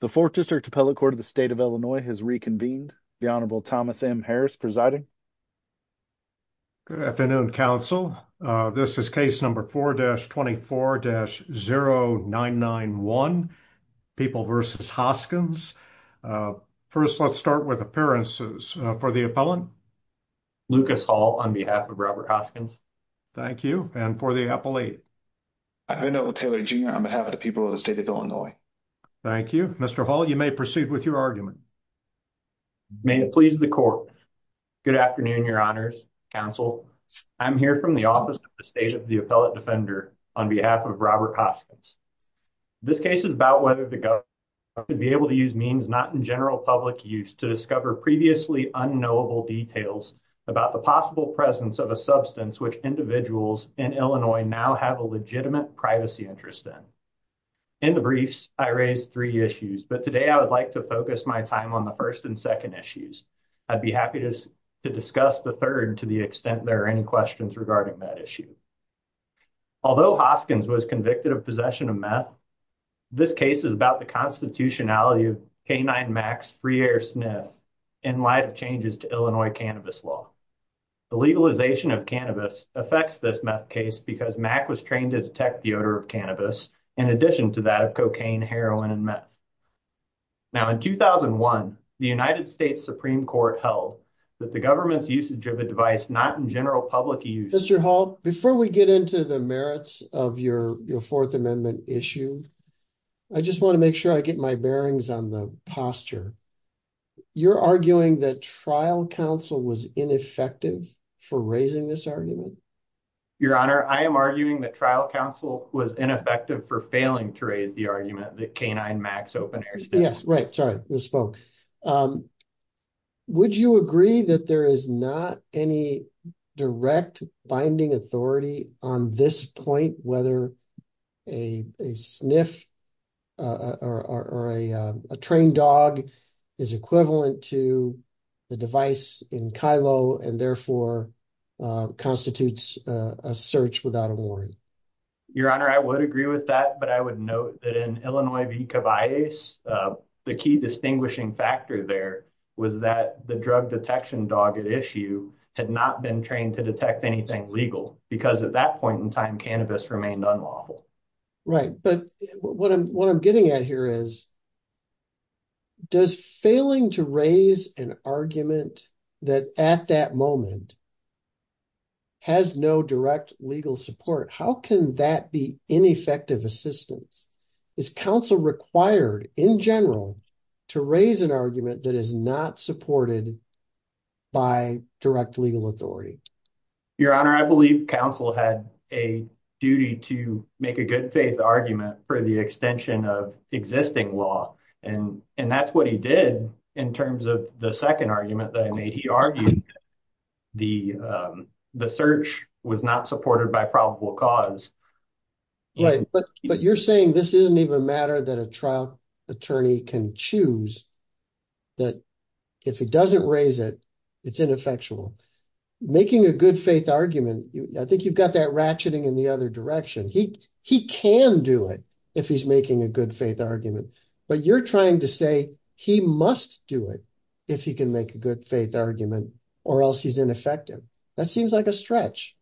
The Fourth District Appellate Court of the State of Illinois has reconvened. The Honorable Thomas M. Harris presiding. Good afternoon, Council. This is case number 4-24-0991, People v. Hoskins. First, let's start with appearances. For the appellant. Lucas Hall, on behalf of Robert Hoskins. Thank you. And for the appellate. I'm Enola Taylor, Jr. on behalf of the people of the State of Illinois. Thank you. Mr. Hall, you may proceed with your argument. May it please the Court. Good afternoon, Your Honors, Council. I'm here from the office of the State of the Appellate Defender on behalf of Robert Hoskins. This case is about whether the government could be able to use means not in general public use to discover previously unknowable details about the possible presence of a substance which individuals in Illinois now have a legitimate privacy interest in. In the briefs, I raised three issues, but today I would like to focus my time on the first and second issues. I'd be happy to discuss the third to the extent there are any questions regarding that issue. Although Hoskins was convicted of possession of meth, this case is about the constitutionality of K-9 Max free air sniff in light of changes to Illinois cannabis law. The legalization of cannabis affects this meth case because MAC was trained to detect the odor of cannabis in addition to that of cocaine, heroin, and meth. Now, in 2001, the United States Supreme Court held that the government's usage of a device not in general public use... Mr. Hall, before we get into the merits of your Fourth Amendment issue, I just want to make sure I get my bearings on the posture. You're arguing that trial counsel was ineffective for raising this argument? Your Honor, I am arguing that trial counsel was ineffective for failing to raise the argument that K-9 Max open air sniff... Yes, right. Sorry, misspoke. Would you agree that there is not any direct binding authority on this point, whether a sniff or a trained dog is equivalent to the device in Kylo and therefore constitutes a search without a warrant? Your Honor, I would agree with that, but I would note that in Illinois v. Cavallese, the key distinguishing factor there was that the drug detection dog at had not been trained to detect anything legal because at that point in time, cannabis remained unlawful. Right. But what I'm getting at here is does failing to raise an argument that at that moment has no direct legal support, how can that be ineffective assistance? Is counsel required in general to raise an argument that is not supported by direct legal authority? Your Honor, I believe counsel had a duty to make a good faith argument for the extension of existing law. And that's what he did in terms of the second argument that I made. He argued the search was not supported by probable cause. Right. But you're saying this isn't even a matter that a trial attorney can choose, that if he doesn't raise it, it's ineffectual. Making a good faith argument, I think you've got that ratcheting in the other direction. He can do it if he's making a good faith argument. But you're trying to say he must do it if he can make a good faith argument or else he's ineffective. That seems like a stretch.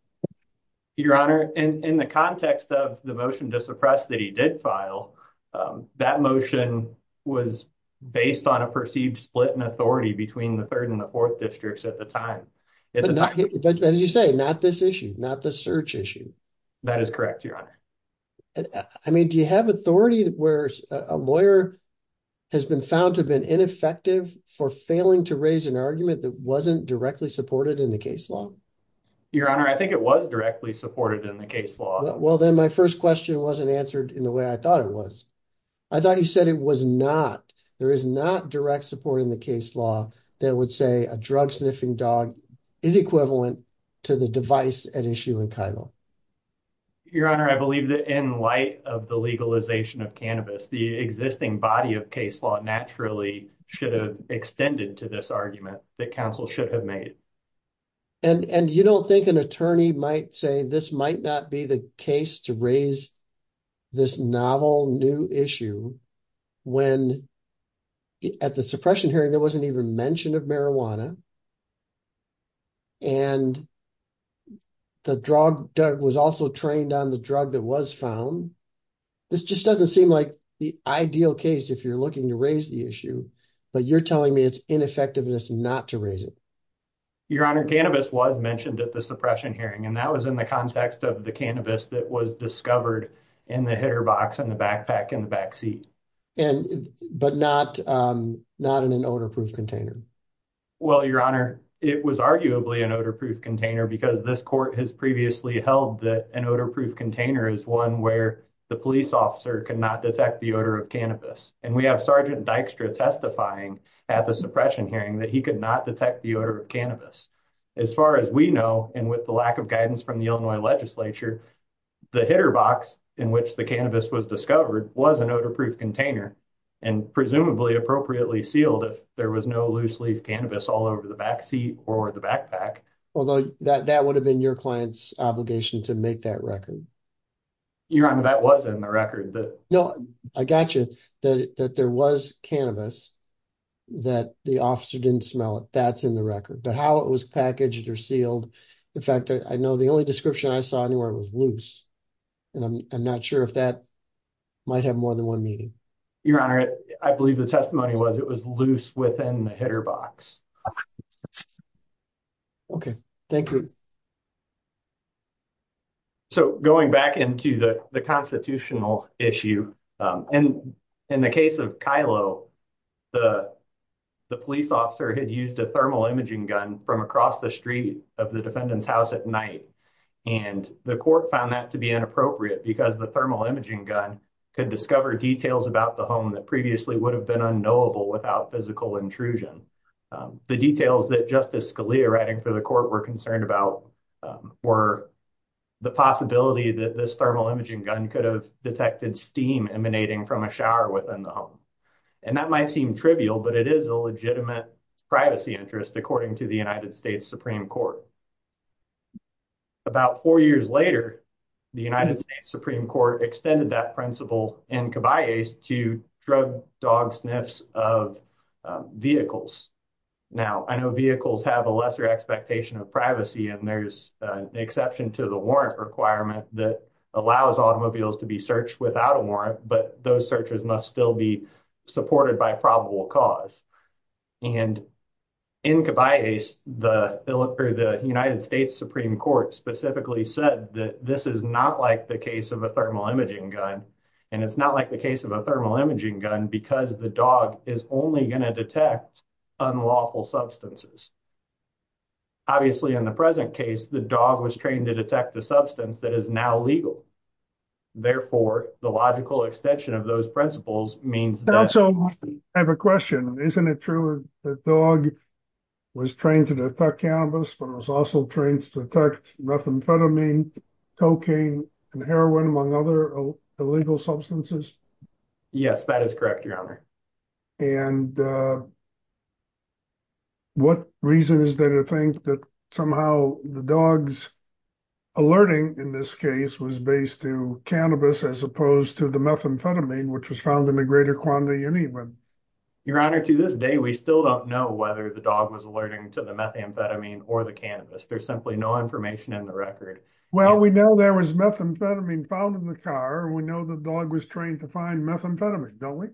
Your Honor, in the context of the motion to suppress that he did file, that motion was based on a perceived split in authority between the third and the fourth districts at the time. But as you say, not this issue, not the search issue. That is correct, Your Honor. I mean, do you have authority where a lawyer has been found to have been ineffective for failing to raise an argument that wasn't directly supported in the case law? Your Honor, I think it was directly supported in the case law. Well, then my first question wasn't answered in the way I thought it was. I thought you said it was not. There is not direct support in the case law that would say a drug sniffing dog is equivalent to the device at issue in Kylo. Your Honor, I believe that in light of the legalization of cannabis, the existing body of case law naturally should have extended to this argument that counsel should have made. And you don't think an attorney might say this might not be the case to raise this novel new issue when at the suppression hearing there wasn't even mention of marijuana and the drug was also trained on the drug that was found. This just doesn't seem like the ideal case if you're looking to raise the issue, but you're telling me it's ineffectiveness not to Your Honor, cannabis was mentioned at the suppression hearing and that was in the context of the cannabis that was discovered in the hitter box and the backpack in the backseat. But not in an odor proof container. Well, Your Honor, it was arguably an odor proof container because this court has previously held that an odor proof container is one where the police officer cannot detect the odor of cannabis. And we have Sergeant Dykstra testifying at the odor of cannabis. As far as we know, and with the lack of guidance from the Illinois legislature, the hitter box in which the cannabis was discovered was an odor proof container and presumably appropriately sealed if there was no loose leaf cannabis all over the backseat or the backpack. Although that would have been your client's obligation to make that record. Your Honor, that was in the record. No, I got you that there was cannabis that the officer didn't smell it. That's in the record, but how it was packaged or sealed. In fact, I know the only description I saw anywhere it was loose and I'm not sure if that might have more than one meaning. Your Honor, I believe the testimony was it was loose within the hitter box. Okay, thank you. So going back into the constitutional issue and in the case of Kylo, the police officer had used a thermal imaging gun from across the street of the defendant's house at night and the court found that to be inappropriate because the thermal imaging gun could discover details about the home that previously would have been unknowable without physical intrusion. The details that Justice Scalia writing for the court were concerned about were the possibility that this thermal imaging gun could have detected steam emanating from a shower within the home. And that might seem trivial, but it is a legitimate privacy interest according to the United States Supreme Court. About four years later, the United States Supreme Court extended that principle to drug dog sniffs of vehicles. Now, I know vehicles have a lesser expectation of privacy and there's an exception to the warrant requirement that allows automobiles to be searched without a warrant, but those searches must still be supported by probable cause. And in Caballese, the United States Supreme Court specifically said that this is not like the case of a thermal imaging gun and it's not like the case of a thermal imaging gun because the dog is only going to detect unlawful substances. Obviously, in the present case, the dog was trained to detect the substance that is now legal. Therefore, the logical extension of those principles means that... I have a question. Isn't it true that the dog was trained to detect cannabis, but was also trained to detect methamphetamine, cocaine, and heroin, among other illegal substances? Yes, that is correct, Your Honor. And what reason is there to think that somehow the dog's alerting in this case was based to cannabis as opposed to the methamphetamine, which was found in a greater quantity anyway? Your Honor, to this day, we still don't know whether the dog was to the methamphetamine or the cannabis. There's simply no information in the record. Well, we know there was methamphetamine found in the car. We know the dog was trained to find methamphetamine, don't we?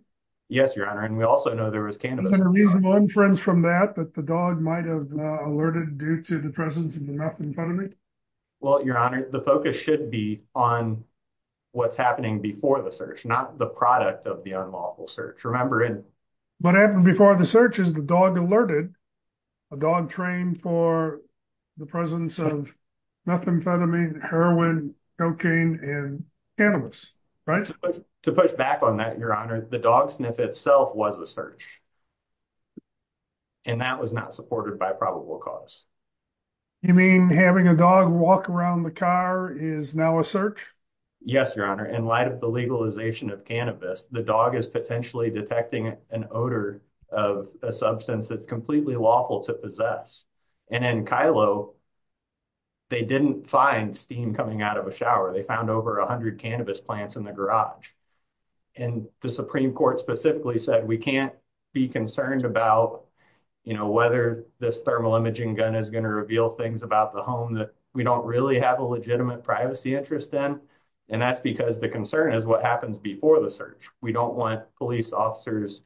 Yes, Your Honor. And we also know there was cannabis. Is there a reasonable inference from that that the dog might have alerted due to the presence of the methamphetamine? Well, Your Honor, the focus should be on what's happening before the search, not the product of the unlawful search. Remember in... What happened before the search is the dog alerted. The dog trained for the presence of methamphetamine, heroin, cocaine, and cannabis, right? To push back on that, Your Honor, the dog sniff itself was a search. And that was not supported by probable cause. You mean having a dog walk around the car is now a search? Yes, Your Honor. In light of the an odor of a substance that's completely lawful to possess. And in Kylo, they didn't find steam coming out of a shower. They found over a hundred cannabis plants in the garage. And the Supreme Court specifically said we can't be concerned about whether this thermal imaging gun is going to reveal things about the home that we don't really have a legitimate privacy interest in. And that's because the concern is what happens before the search. We don't want officers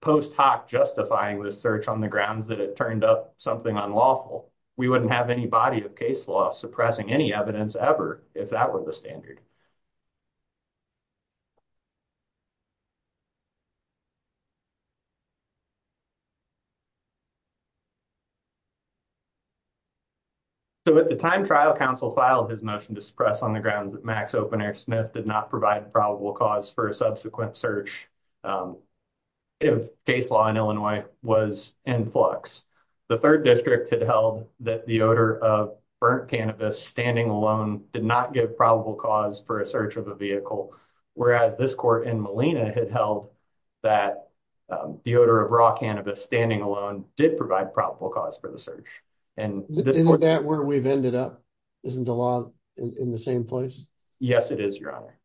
post hoc justifying the search on the grounds that it turned up something unlawful. We wouldn't have any body of case law suppressing any evidence ever if that were the standard. So at the time trial counsel filed his motion to suppress on the grounds that Max Open Air did not provide probable cause for a subsequent search. If case law in Illinois was in flux, the third district had held that the odor of burnt cannabis standing alone did not give probable cause for a search of a vehicle. Whereas this court in Molina had held that the odor of raw cannabis standing alone did provide probable cause for the search. And isn't that where we've ended up? Isn't the law in the same place? Yes, it is, your honor.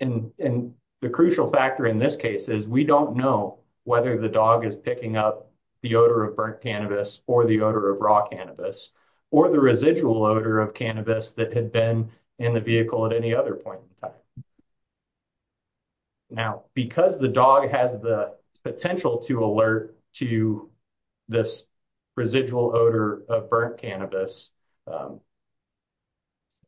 And the crucial factor in this case is we don't know whether the dog is picking up the odor of burnt cannabis or the odor of raw cannabis or the residual odor of cannabis that had been in the vehicle at any other point in time. Now, because the dog has the potential to alert to this residual odor of burnt cannabis,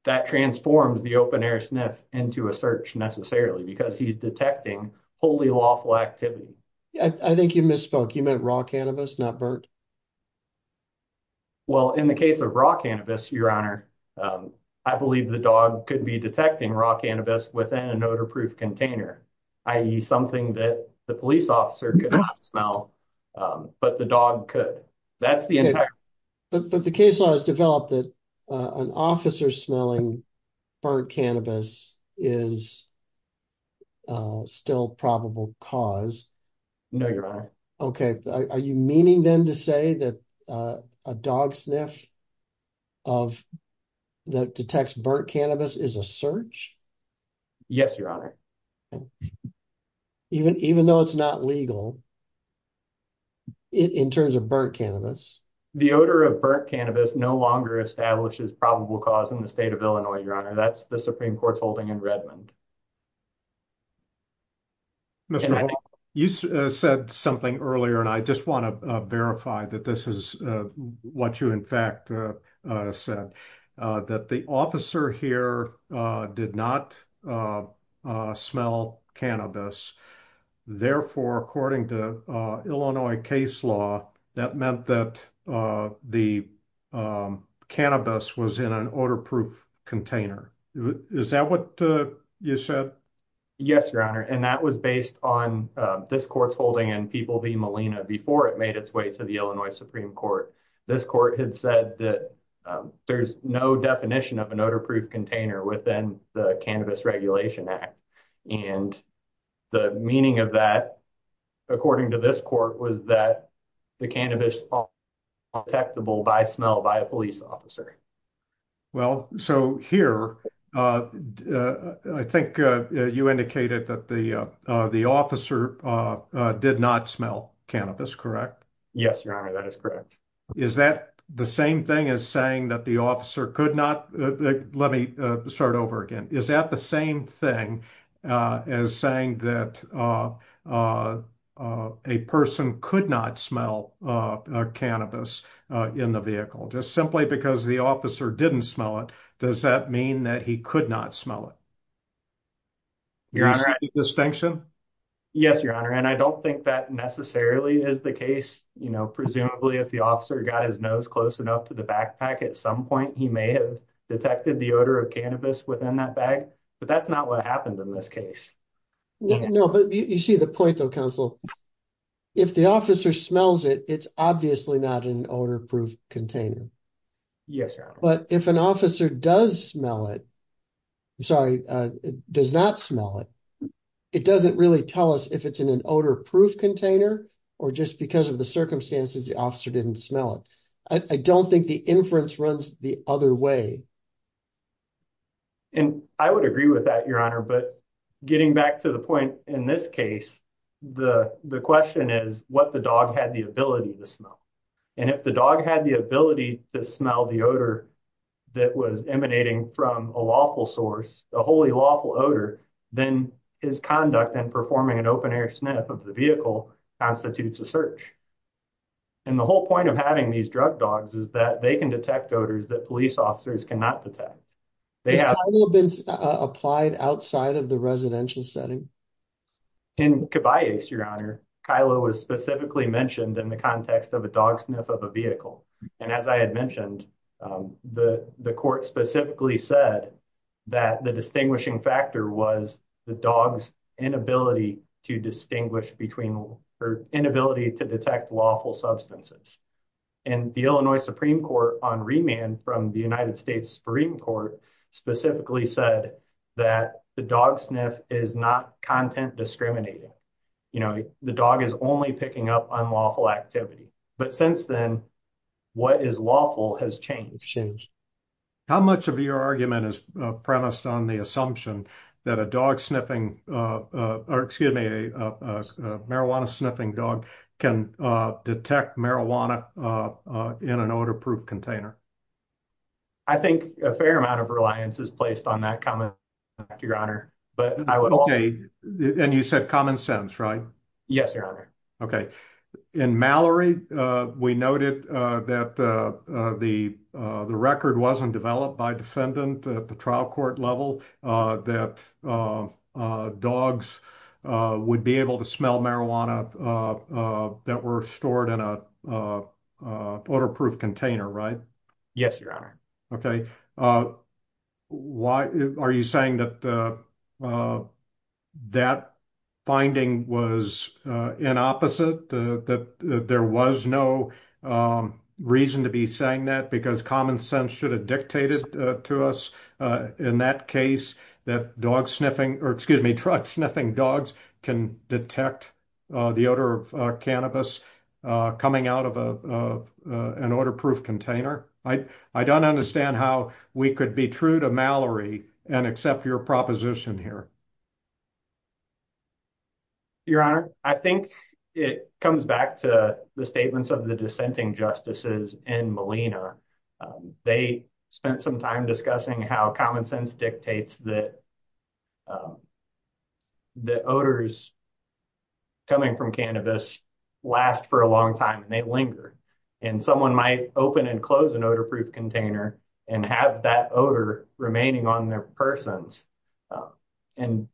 that transforms the open air sniff into a search necessarily because he's detecting wholly lawful activity. I think you misspoke. You meant raw cannabis, not burnt. Well, in the case of raw cannabis, your honor, I believe the dog could be detecting raw cannabis within an odor-proof container, i.e. something that the police officer could not smell, but the dog could. But the case law has developed that an officer smelling burnt cannabis is still probable cause. No, your honor. Okay. Are you meaning then to say that a dog sniff of that detects burnt cannabis is a search? Yes, your honor. Even though it's not legal in terms of burnt cannabis. The odor of burnt cannabis no longer establishes probable cause in the state of Illinois, your honor. That's the Supreme Court's holding in Redmond. Mr. Hall, you said something earlier and I just want to verify that this is what you in fact said, that the officer here did not smell cannabis. Therefore, according to Illinois case law, that meant that the cannabis was in an odor-proof container. Is that what you said? Yes, your honor. And that was based on this court's holding and People v. Molina before it to the Illinois Supreme Court. This court had said that there's no definition of an odor-proof container within the Cannabis Regulation Act. And the meaning of that, according to this court, was that the cannabis is detectable by smell by a police officer. Well, so here, I think you indicated that the officer did not smell cannabis, correct? Yes, your honor. That is correct. Is that the same thing as saying that the officer could not? Let me start over again. Is that the same thing as saying that a person could not smell cannabis in the vehicle just because the officer didn't smell it? Does that mean that he could not smell it? Your honor, I don't think that necessarily is the case. Presumably, if the officer got his nose close enough to the backpack, at some point he may have detected the odor of cannabis within that bag. But that's not what happened in this case. No, but you see the point though, counsel. If the officer smells it, it's obviously not an odor-proof container. Yes, your honor. But if an officer does smell it, I'm sorry, does not smell it, it doesn't really tell us if it's in an odor-proof container or just because of the circumstances the officer didn't smell it. I don't think the inference runs the other way. And I would agree with that, your honor. But getting back to the point in this case, the question is what the dog had the ability to smell. And if the dog had the ability to smell the odor that was emanating from a lawful source, a wholly lawful odor, then his conduct in performing an open-air sniff of the vehicle constitutes a search. And the whole point of having these drug dogs is that they can detect odors that police officers cannot detect. They have been applied outside of the residential setting. In Kibayes, your honor, Kylo was specifically mentioned in the context of a dog sniff of a vehicle. And as I had mentioned, the court specifically said that the distinguishing factor was the dog's inability to distinguish between or inability to detect lawful substances. And the Illinois Supreme Court on remand from the United States Supreme Court specifically said that the dog sniff is not content discriminating. You know, the dog is only picking up unlawful activity. But since then, what is lawful has changed. How much of your argument is premised on the assumption that a dog sniffing, or excuse me, marijuana sniffing dog can detect marijuana in an odor-proof container? I think a fair amount of reliance is placed on that comment, your honor. Okay. And you said common sense, right? Yes, your honor. Okay. In Mallory, we noted that the record wasn't developed by defendant at the trial court level that dogs would be able to smell marijuana that were stored in a odor-proof container, right? Yes, your honor. Okay. Why are you saying that that finding was in opposite, that there was no reason to be saying that because common sense should have dictated to us in that case that dog sniffing, or excuse me, truck sniffing dogs can detect the odor of cannabis coming out of an odor-proof container. I don't understand how we could be true to Mallory and accept your proposition here. Okay. Your honor, I think it comes back to the statements of the dissenting justices in Molina. They spent some time discussing how common sense dictates that the odors coming from cannabis last for a long time and they linger. And someone might open and odor-proof container and have that odor remaining on their persons. And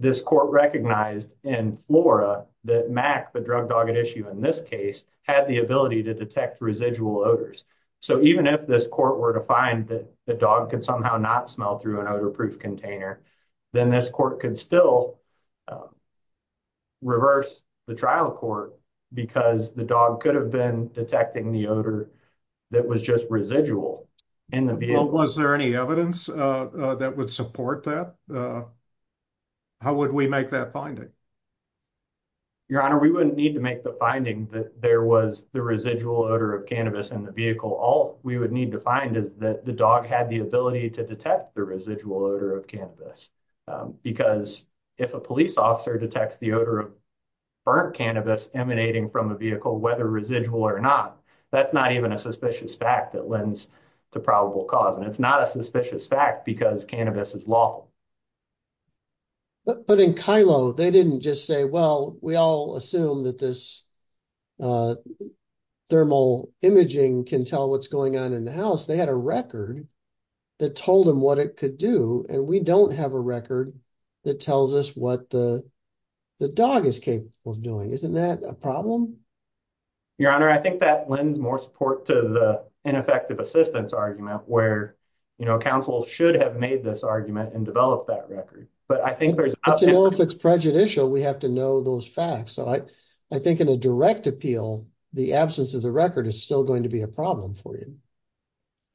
this court recognized in Flora that Mac, the drug dog at issue in this case, had the ability to detect residual odors. So even if this court were to find that the dog could somehow not smell through an odor-proof container, then this court could still reverse the trial court because the dog could have been detecting the odor that was just residual. Was there any evidence that would support that? How would we make that finding? Your honor, we wouldn't need to make the finding that there was the residual odor of cannabis in the vehicle. All we would need to find is that the dog had the ability to detect the residual odor of cannabis. Because if a police officer detects the odor of burnt cannabis emanating from a vehicle, whether residual or not, that's not even a suspicious fact that lends to probable cause. And it's not a suspicious fact because cannabis is lawful. But in Kylo, they didn't just say, well, we all assume that this thermal imaging can tell what's going on in the house. They had a record that told them what it could do. And we don't have a record that tells us what the dog is capable of doing. Isn't that a problem? Your honor, I think that lends more support to the ineffective assistance argument where counsel should have made this argument and developed that record. But I think there's... But to know if it's prejudicial, we have to know those facts. So I think in a direct appeal, the absence of the record is still going to be a for you.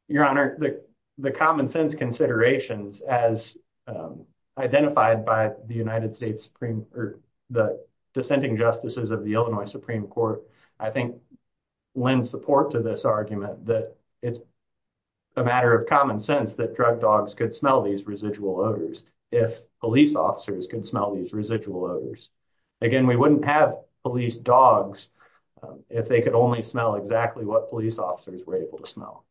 Your honor, the common sense considerations as identified by the dissenting justices of the Illinois Supreme Court, I think lend support to this argument that it's a matter of common sense that drug dogs could smell these residual odors if police officers can smell these residual odors. Again, we wouldn't have police dogs if they could only smell exactly what police officers were able to smell.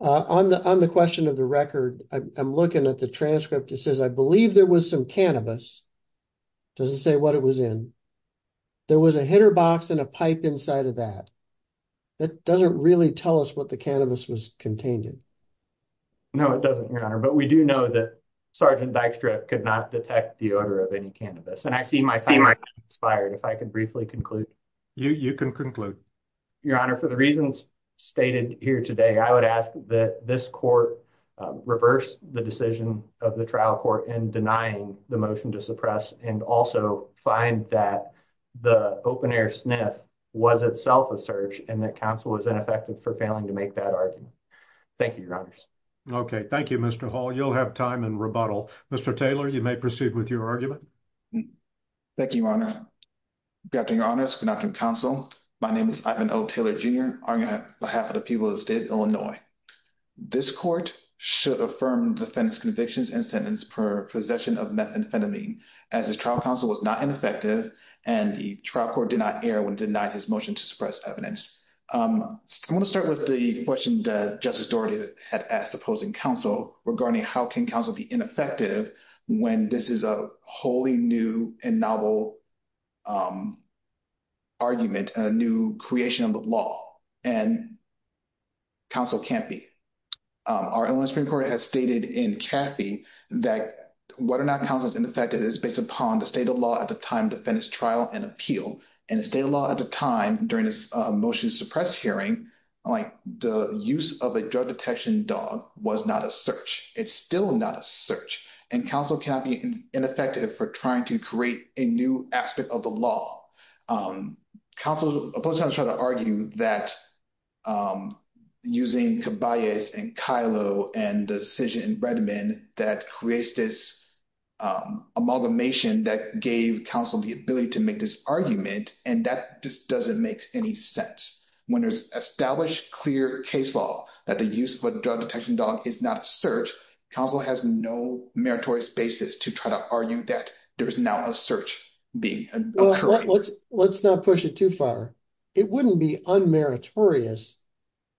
On the question of the record, I'm looking at the transcript. It says, I believe there was some cannabis. It doesn't say what it was in. There was a hitter box and a pipe inside of that. That doesn't really tell us what the cannabis was contained in. No, it doesn't, your honor. But we do know that Sergeant Dykstra could not detect the odor of any cannabis. And I see my time expired. If I could briefly conclude. You can conclude. Your honor, for the reasons stated here today, I would ask that this court reverse the decision of the trial court in denying the motion to suppress and also find that the open air sniff was itself a search and that counsel was ineffective for failing to make that argument. Thank you, your honors. Okay. Thank you, Mr. Hall. You'll have time in rebuttal. Mr. Taylor, you may proceed with your argument. Thank you, your honor. Good afternoon, your honors. Good afternoon, counsel. My name is Ivan O. Taylor, Jr. on behalf of the people of the state of Illinois. This court should affirm defendant's convictions and sentence per possession of methamphetamine as his trial counsel was not ineffective and the trial court did not air when denied his motion to suppress evidence. I want to start with the question that Justice Dougherty had asked opposing counsel regarding how can counsel be ineffective when this is a wholly new and novel argument, a new creation of the law. And counsel can't be. Our Illinois Supreme Court has stated in Cathy that whether or not counsel is ineffective is based upon the state of law at the time defendant's trial and appeal. And the state of law at the time during this motion to was not a search. It's still not a search. And counsel can't be ineffective for trying to create a new aspect of the law. Counsel, opposed to trying to argue that using Kibayas and Kilo and the decision in Redmond that creates this amalgamation that gave counsel the ability to make this argument. And that just doesn't make any sense. When there's established clear case law that the use of a drug detection dog is not a search, counsel has no meritorious basis to try to argue that there is now a search being occurring. Let's not push it too far. It wouldn't be unmeritorious,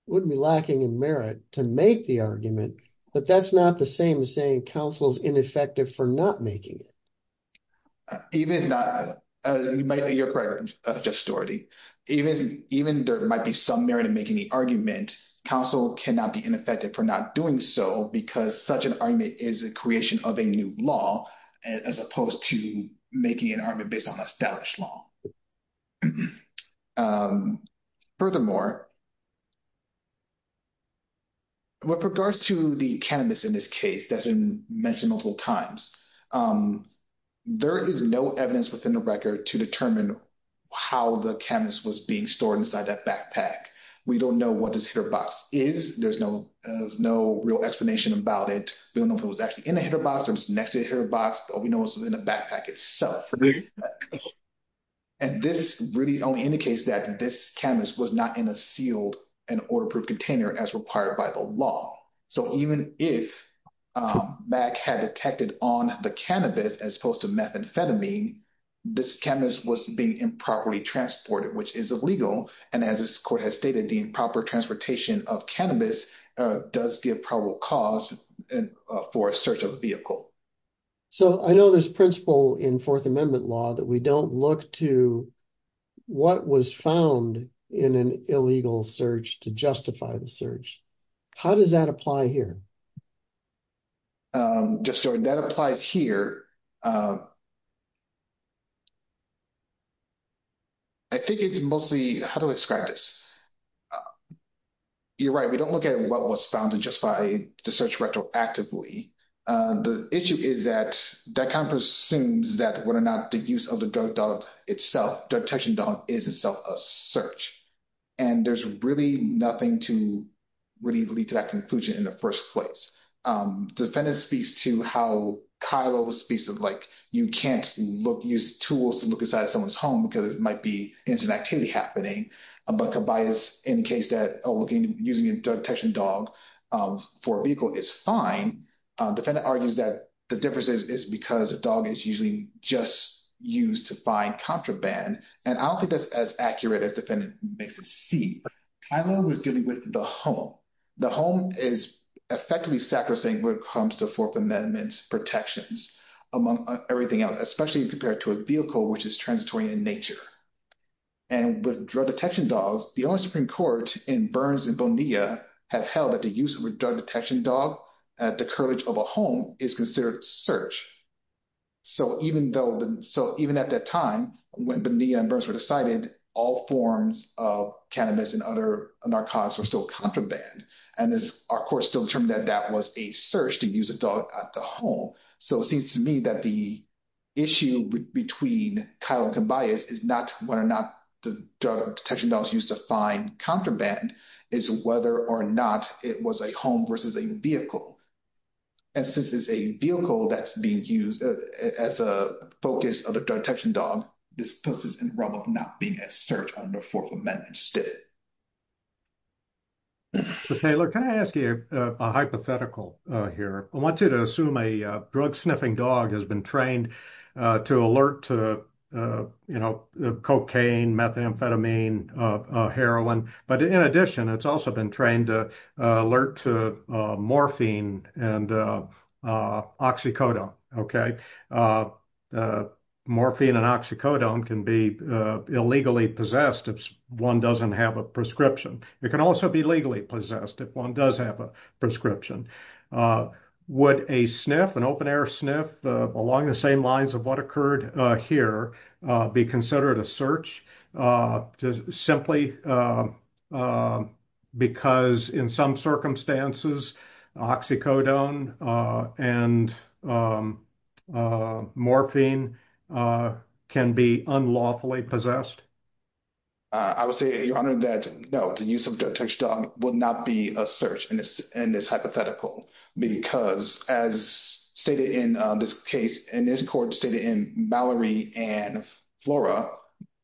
it wouldn't be lacking in merit to make the argument, but that's not the same as saying counsel's ineffective for not making it. Even if it's not, you're correct Justice Dougherty, even there might be some merit in making the counsel cannot be ineffective for not doing so because such an argument is a creation of a new law as opposed to making an argument based on established law. Furthermore, with regards to the cannabis in this case that's been mentioned multiple times, there is no evidence within the record to determine how the cannabis was being stored inside that backpack. We don't know what this hitter box is. There's no real explanation about it. We don't know if it was actually in the hitter box or next to the hitter box, but we know it was in the backpack itself. And this really only indicates that this cannabis was not in a sealed and order-proof container as required by the law. So even if MAC had detected on the cannabis as opposed to methamphetamine, this cannabis was being improperly transported, which is illegal. And as this court has stated, the improper transportation of cannabis does give probable cause for a search of the vehicle. So I know there's principle in Fourth Amendment law that we don't look to what was found in an illegal search to justify the search. How does that apply here? Just so that applies here. I think it's mostly, how do I describe this? You're right. We don't look at what was found to justify the search retroactively. The issue is that that kind of assumes that whether or not the use of the drug dog itself, the detection dog, is itself a search. And there's really nothing to really lead to that conclusion in the first place. Defendant speaks to how Kyle always speaks of like, you can't use tools to look inside someone's home because it might be incident activity happening. But Khabib is in case that using a detection dog for a vehicle is fine. Defendant argues that the difference is because a dog is just used to find contraband. And I don't think that's as accurate as defendant makes it seem. Kyle was dealing with the home. The home is effectively sacrosanct when it comes to Fourth Amendment protections among everything else, especially compared to a vehicle, which is transitory in nature. And with drug detection dogs, the only Supreme Court in Burns and Bonilla have held that the use of a drug detection dog at the cartilage of a home is considered search. So even at that time, when Bonilla and Burns were decided, all forms of cannabis and other narcotics were still contraband. And our court still determined that that was a search to use a dog at the home. So it seems to me that the issue between Kyle and Khabib is not whether or not the drug detection dogs used to find contraband is whether or not it was a home versus a vehicle. And since it's a vehicle that's being used as a focus of the detection dog, this puts us in the realm of not being a search under Fourth Amendment state. Taylor, can I ask you a hypothetical here? I want you to assume a drug sniffing dog has been trained to alert to cocaine, methamphetamine, heroin. But in addition, it's also been trained to alert to morphine and oxycodone, okay? Morphine and oxycodone can be illegally possessed if one doesn't have a prescription. It can also be legally possessed if one does have a prescription. Would a sniff, an open air sniff along the same lines of what occurred here be considered a search just simply because in some circumstances, oxycodone and morphine can be unlawfully possessed? I would say, Your Honor, that no, the use of a detection dog would not be a search in this hypothetical because as stated in this case, and this court stated in Mallory and Flora,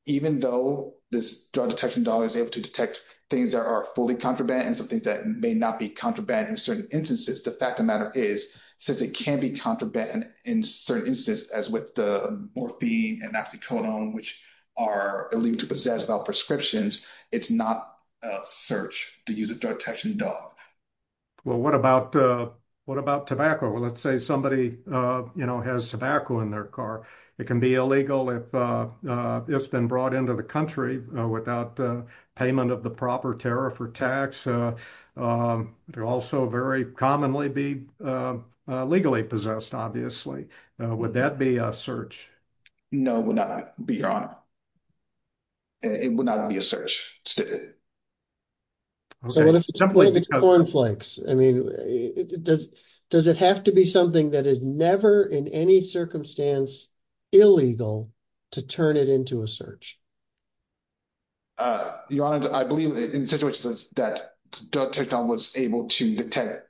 even though this drug detection dog is able to detect things that are fully contraband and some things that may not be contraband in certain instances, the fact of the matter is, since it can be contraband in certain instances, as with the morphine and oxycodone, which are illegal to possess without prescriptions, it's not a search to use a drug detection dog. Well, what about tobacco? Well, let's say somebody has tobacco in their car. It can be illegal if it's been brought into the country without payment of the proper tariff or tax. It would also very commonly be legally possessed, obviously. Would that be a search? No, it would not be, Your Honor. It would not be a search. So what if it's a cornflakes? I mean, does it have to be something that is never in any circumstance illegal to turn it into a search? Your Honor, I believe in situations that drug detection was able to detect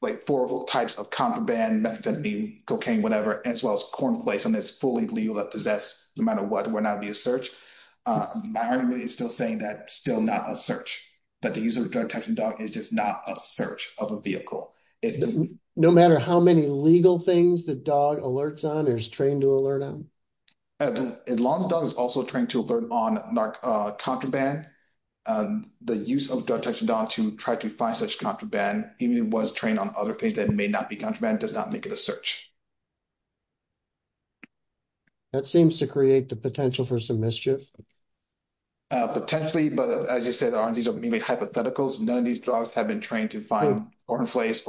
like four types of contraband, methamphetamine, cocaine, whatever, as well as cornflakes, and it's fully legal to possess no matter what would not be a search. My argument is still saying that it's still not a search, that the use of a drug detection dog is just not a search of a vehicle. No matter how many legal things the dog alerts on or is trained to alert on? As long as the dog is also trained to alert on contraband, the use of drug detection dogs to try to find such contraband, even if it was trained on other things that may not be contraband, does not make it a search. That seems to create the potential for some mischief. Potentially, but as you said, these aren't merely hypotheticals. None of these drugs have been trained to find cornflakes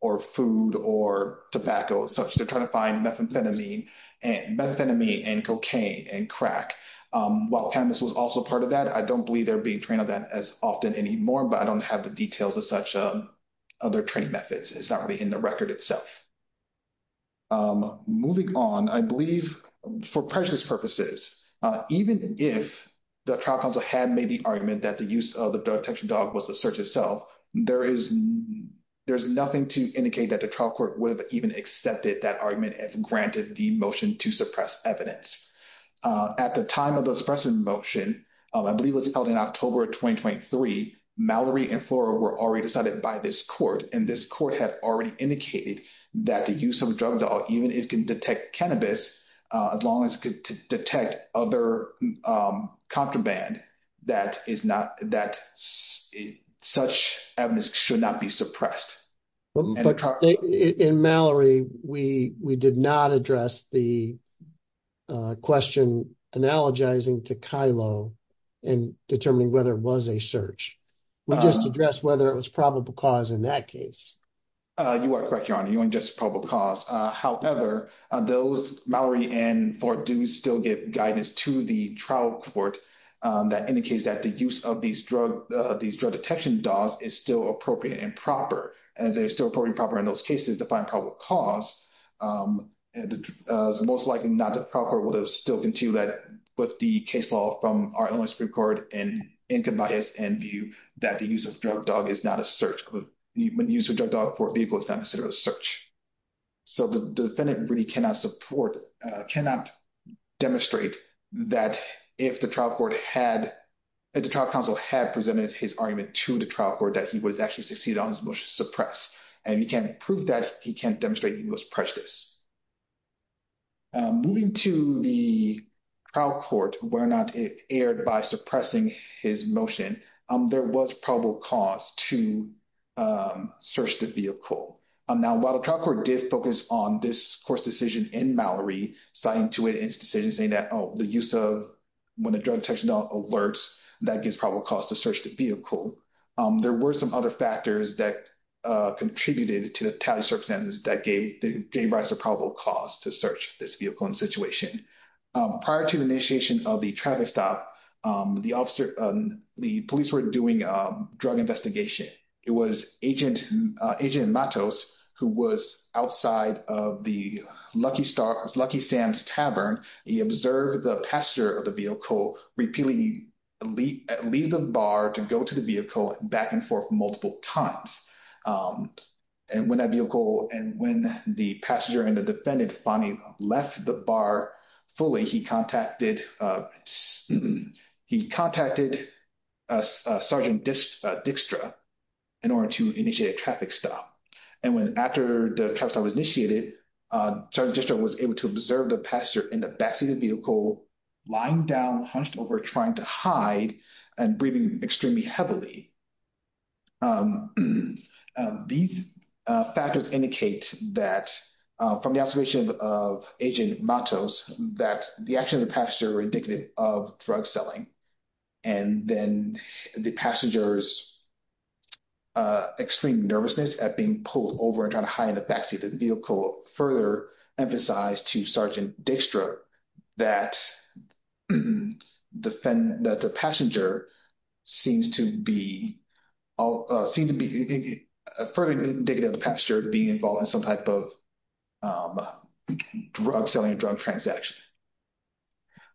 or food or tobacco, such as they're trying to find methamphetamine and cocaine and crack. While cannabis was also part of that, I don't believe they're being trained on that as often anymore, but I don't have the details of such other training methods. It's not really in the record itself. Moving on, I believe for precious purposes, even if the trial counsel had made the argument that the use of the drug detection dog was the search itself, there's nothing to indicate that the trial court would have even accepted that argument and granted the motion to suppress evidence. At the time of the suppression motion, I believe it was held in October of 2023, Mallory and Flora were already decided by this court, and this court had already indicated that the use of drugs, even if it can detect cannabis, as long as it could detect other contraband, that such evidence should not be suppressed. In Mallory, we did not address the question analogizing to Kylo and determining whether it was a search. We just addressed whether it was probable cause in that case. You are correct, Your Honor. It wasn't just probable cause. However, those Mallory and Flora do still get guidance to the trial court that indicates that the use of these drug detection dogs is still appropriate and proper, and they're still appropriate and proper in those cases to find probable cause. It's most likely not the trial court would have continued that with the case law from our Illinois Supreme Court and in Conveyance and View that the use of drug dog is not a search. When you use a drug dog for a vehicle, it's not necessarily a search. The defendant really cannot support, cannot demonstrate that if the trial court had, if the trial counsel had presented his argument to the trial court that he would actually succeed on his motion to suppress. He can't prove that. He can't demonstrate he was precious. Moving to the trial court, whether or not it erred by suppressing his motion, there was probable cause to search the vehicle. Now, while the trial court did focus on this court's decision in Mallory, citing to it in its decision saying that, oh, the use of, when the drug detection dog alerts, that gives probable cause to search the vehicle, there were some other factors that contributed to the tally circumstances that gave rise to probable cause to search this vehicle and situation. Prior to the initiation of the traffic stop, the officer, the police were doing a drug investigation. It was Agent Matos who was outside of the Lucky Sam's Tavern. He observed the passenger of the vehicle repeatedly leave the bar to go to the vehicle back and forth multiple times. And when that vehicle, and when the passenger and the defendant finally left the bar fully, he contacted Sergeant Dixtra in order to initiate a traffic stop. And when, after the traffic stop was initiated, Sergeant Dixtra was able to observe the passenger in the backseat of the vehicle lying down, hunched over, trying to hide and breathing extremely heavily. These factors indicate that from the observation of Agent Matos, that the action of the passenger indicative of drug selling. And then the passenger's extreme nervousness at being pulled over and trying to hide in the backseat of the passenger seems to be further indicative of the passenger being involved in some type of drug selling, a drug transaction.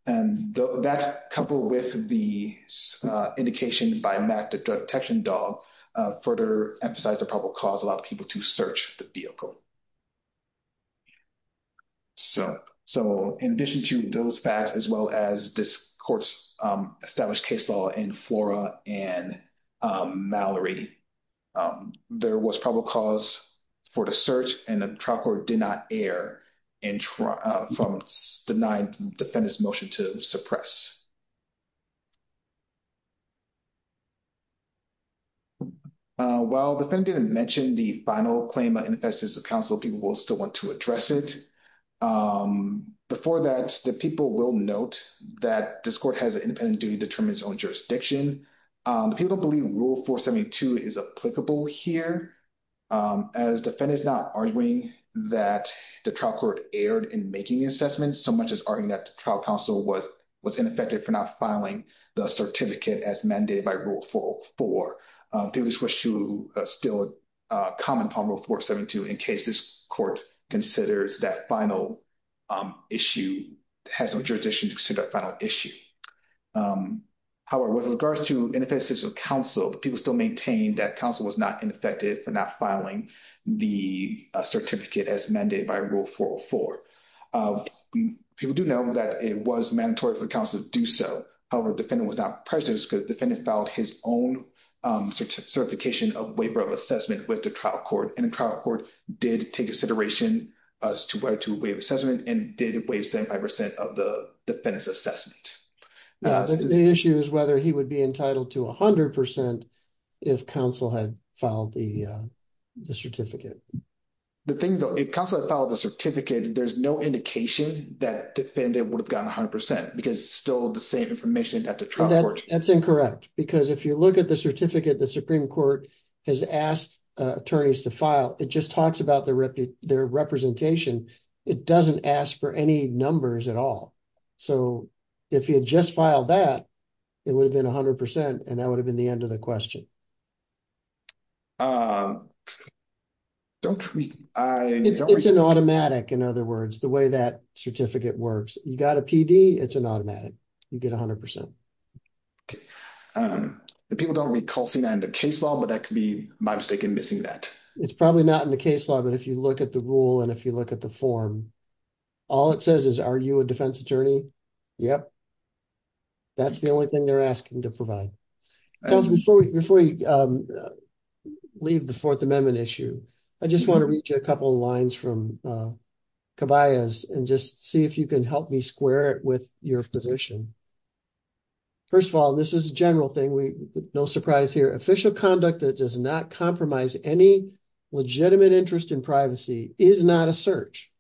And that coupled with the indication by Matt, the drug detection dog, further emphasized the probable cause allowed people to search the vehicle. So, in addition to those facts, as well as this court's established case law in Flora and Mallory, there was probable cause for the search and the trial court did not err from the nine defendants' motion to suppress. While the defendant didn't mention the final claim of ineffectiveness of counsel, people will still want to address it. Before that, the people will note that this court has an independent duty to determine its own jurisdiction. The people believe Rule 472 is applicable here, as the defendant is not arguing that the trial court erred in making the assessment so much as arguing that the trial counsel was ineffective for not filing the certificate as mandated by Rule 404. People just wish to still comment on Rule 472 in case this court considers that final issue, has no jurisdiction to consider that final issue. However, with regards to ineffectiveness of counsel, the people still maintain that counsel was not ineffective for not filing the certificate as mandated by Rule 404. People do know that it was mandatory for counsel to do so. However, the defendant was not present because the defendant filed his own certification of waiver of assessment with the trial court and the trial court did take consideration as to whether to waive assessment and did waive 75 percent of the defendant's assessment. The issue is whether he would be to 100 percent if counsel had filed the certificate. The thing though, if counsel had filed the certificate, there's no indication that defendant would have gotten 100 percent because still the same information at the trial court. That's incorrect because if you look at the certificate the Supreme Court has asked attorneys to file, it just talks about their representation. It doesn't ask for any numbers at all. So, if he had just filed that, it would have been 100 percent and that would have been the end of the question. It's an automatic, in other words, the way that certificate works. You got a PD, it's an automatic. You get 100 percent. People don't recall seeing that in the case law, but that could be my mistake in missing that. It's probably not in the case law, but if you look at the rule and if you look at the form, all it says is, are you a defense attorney? Yep. That's the only thing they're asking to provide. Before we leave the Fourth Amendment issue, I just want to read you a couple of lines from Caballas and just see if you can help me square it with your position. First of all, this is a general thing. No surprise here. Official conduct that does not compromise any legitimate interest in privacy is not a search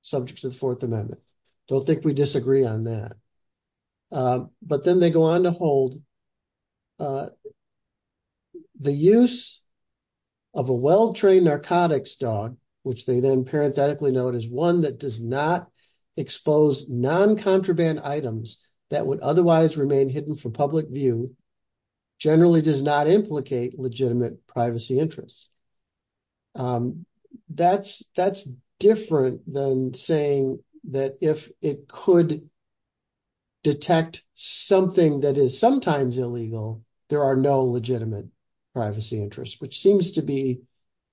subject to the Fourth Amendment. Don't think we disagree on that. But then they go on to hold the use of a well-trained narcotics dog, which they then parenthetically note is one that does not expose non-contraband items that would otherwise remain hidden from public view, generally does not implicate legitimate privacy interests. That's different than saying that if it could detect something that is sometimes illegal, there are no legitimate privacy interests, which seems to be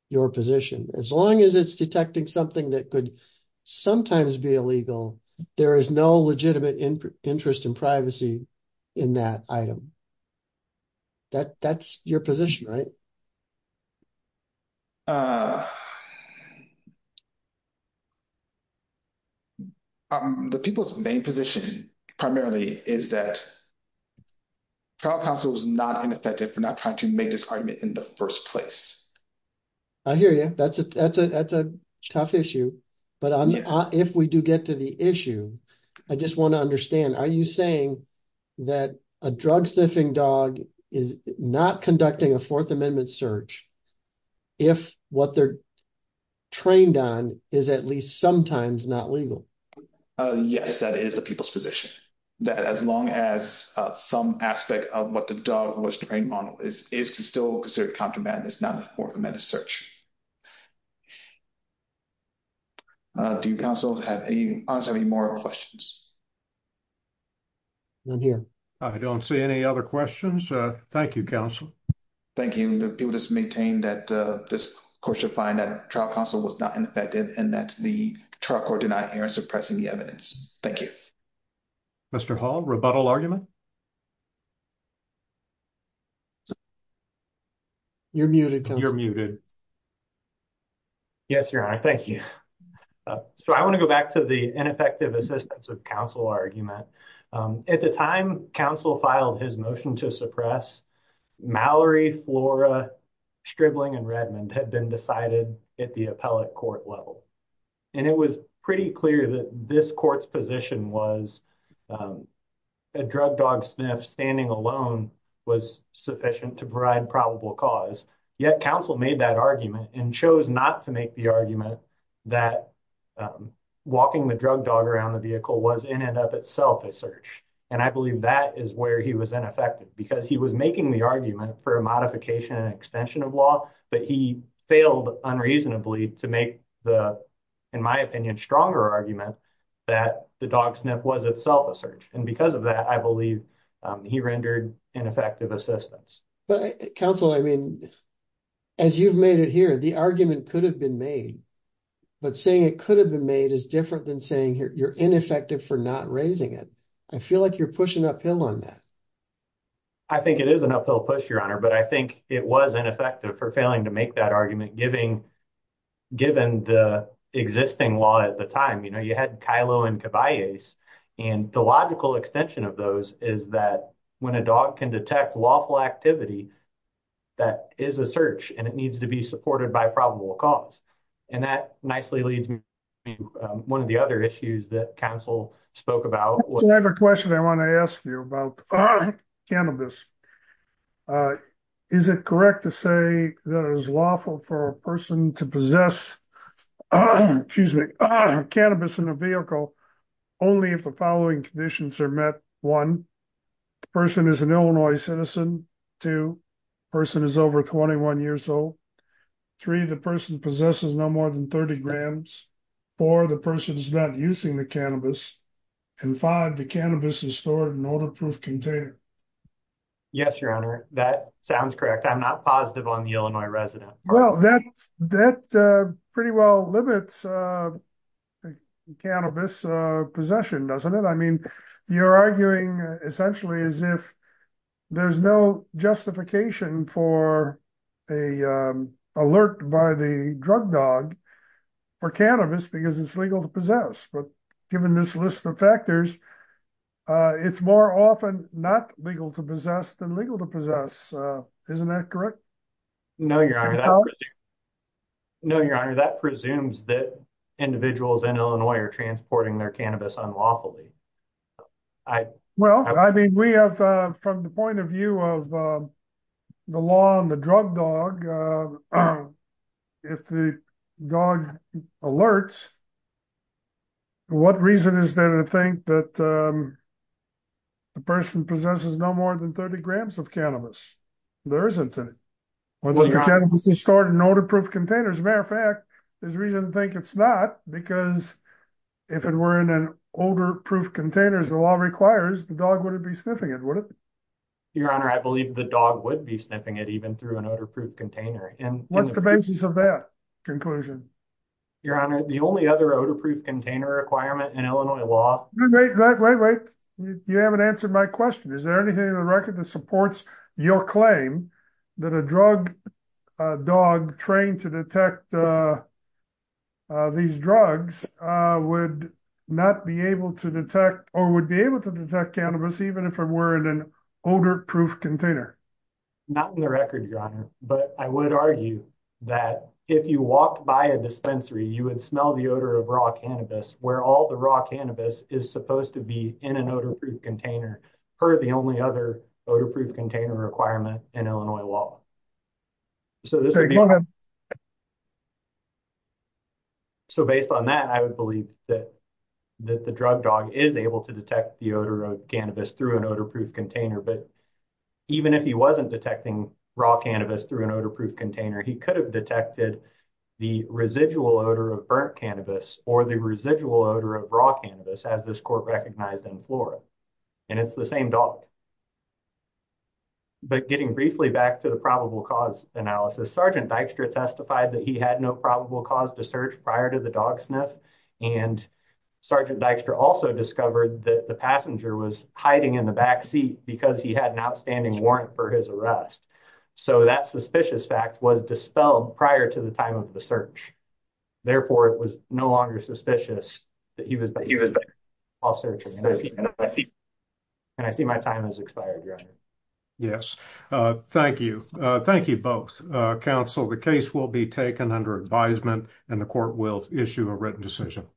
your position. As long as it's detecting something that could sometimes be illegal, there is no legitimate interest in privacy in that item. That's your position, right? The people's main position primarily is that trial counsel is not ineffective for not trying to make this argument in the first place. I hear you. That's a tough issue. But if we do get to the issue, I just want to understand, are you saying that a drug sniffing dog is not conducting a Fourth Amendment search if what they're trained on is at least sometimes not legal? Yes, that is the people's position. That as long as some aspect of what the dog was trained on is still considered contraband, it's not a Fourth Amendment search. Do you counsel have any more questions? Not here. I don't see any other questions. Thank you, counsel. Thank you. The people just maintain that this court should find that trial counsel was not ineffective and that the trial court did not hear in suppressing the evidence. Thank you. Mr. Hall, rebuttal argument? You're muted, counsel. You're muted. Yes, Your Honor. Thank you. So I want to go back to the ineffective assistance of counsel argument. At the time counsel filed his motion to suppress, Mallory, Flora, Stribling, and Redmond had been decided at the appellate court level. And it was pretty clear that this court's position was a drug dog sniff standing alone was sufficient to provide probable cause. Yet counsel made that argument and chose not to that walking the drug dog around the vehicle was in and of itself a search. And I believe that is where he was ineffective because he was making the argument for a modification extension of law, but he failed unreasonably to make the, in my opinion, stronger argument that the dog sniff was itself a search. And because of that, I believe he rendered ineffective assistance. But counsel, I mean, as you've made it here, the argument could have been made, but saying it could have been made as different than saying here, you're ineffective for not raising it. I feel like you're pushing uphill on that. I think it is an uphill push, Your Honor, but I think it was ineffective for failing to make that argument giving, given the existing law at the time, you know, you had Kylo and Caballese and the logical extension of those is that when a dog can detect lawful activity, that is a search and it needs to be supported by probable cause. And that nicely leads me to one of the other issues that counsel spoke about. So I have a question I want to ask you about cannabis. Is it correct to say that it is lawful for a person to possess, excuse me, cannabis in a vehicle only if the following conditions are met? One, the person is an Illinois citizen. Two, the person is over 21 years old. Three, the person possesses no more than 30 grams. Four, the person is not using the cannabis. And five, the cannabis is stored in an odor-proof container. Yes, Your Honor, that sounds correct. I'm not positive on the Illinois resident. Well, that pretty well limits cannabis possession, doesn't it? I mean, you're arguing essentially as if there's no justification for an alert by the drug dog for cannabis because it's legal to possess. But given this list of factors, it's more often not legal to possess than legal to possess. Isn't that correct? No, Your Honor. No, Your Honor, that presumes that individuals in Illinois are transporting their cannabis unlawfully. Well, I mean, we have, from the point of view of the law and the drug dog, if the dog alerts, what reason is there to think that the person possesses no more than 30 grams of cannabis? There isn't any. Well, the cannabis is stored in odor-proof containers. As a matter of fact, there's reason to think it's not because if it were in an odor-proof container, as the law requires, the dog wouldn't be sniffing it, would it? Your Honor, I believe the dog would be sniffing it even through an odor-proof container. And what's the basis of that conclusion? Your Honor, the only other odor-proof container requirement in Illinois law... Wait, wait, wait. You haven't answered my question. Is there anything in the record that supports your claim that a drug dog trained to detect these drugs would not be able to detect or would be able to detect cannabis even if it were in an odor-proof container? Not in the record, Your Honor. But I would argue that if you walked by a dispensary, you would smell the odor of raw cannabis, where all the raw cannabis is supposed to be in an odor-proof container per the only other odor-proof container requirement in Illinois law. So based on that, I would believe that the drug dog is able to detect the odor of cannabis through an odor-proof container. But even if he wasn't detecting raw cannabis through an odor-proof container, he could have detected the residual odor of burnt cannabis or the residual odor of raw cannabis, as this court recognized in Flora. And it's the same dog. But getting briefly back to the probable cause analysis, Sergeant Dykstra testified that he had no probable cause to search prior to the dog sniff. And Sergeant Dykstra also discovered that passenger was hiding in the back seat because he had an outstanding warrant for his arrest. So that suspicious fact was dispelled prior to the time of the search. Therefore, it was no longer suspicious that he was off searching. And I see my time has expired, Your Honor. Yes. Thank you. Thank you both. Counsel, the case will be taken under advisement and the court will issue a written decision.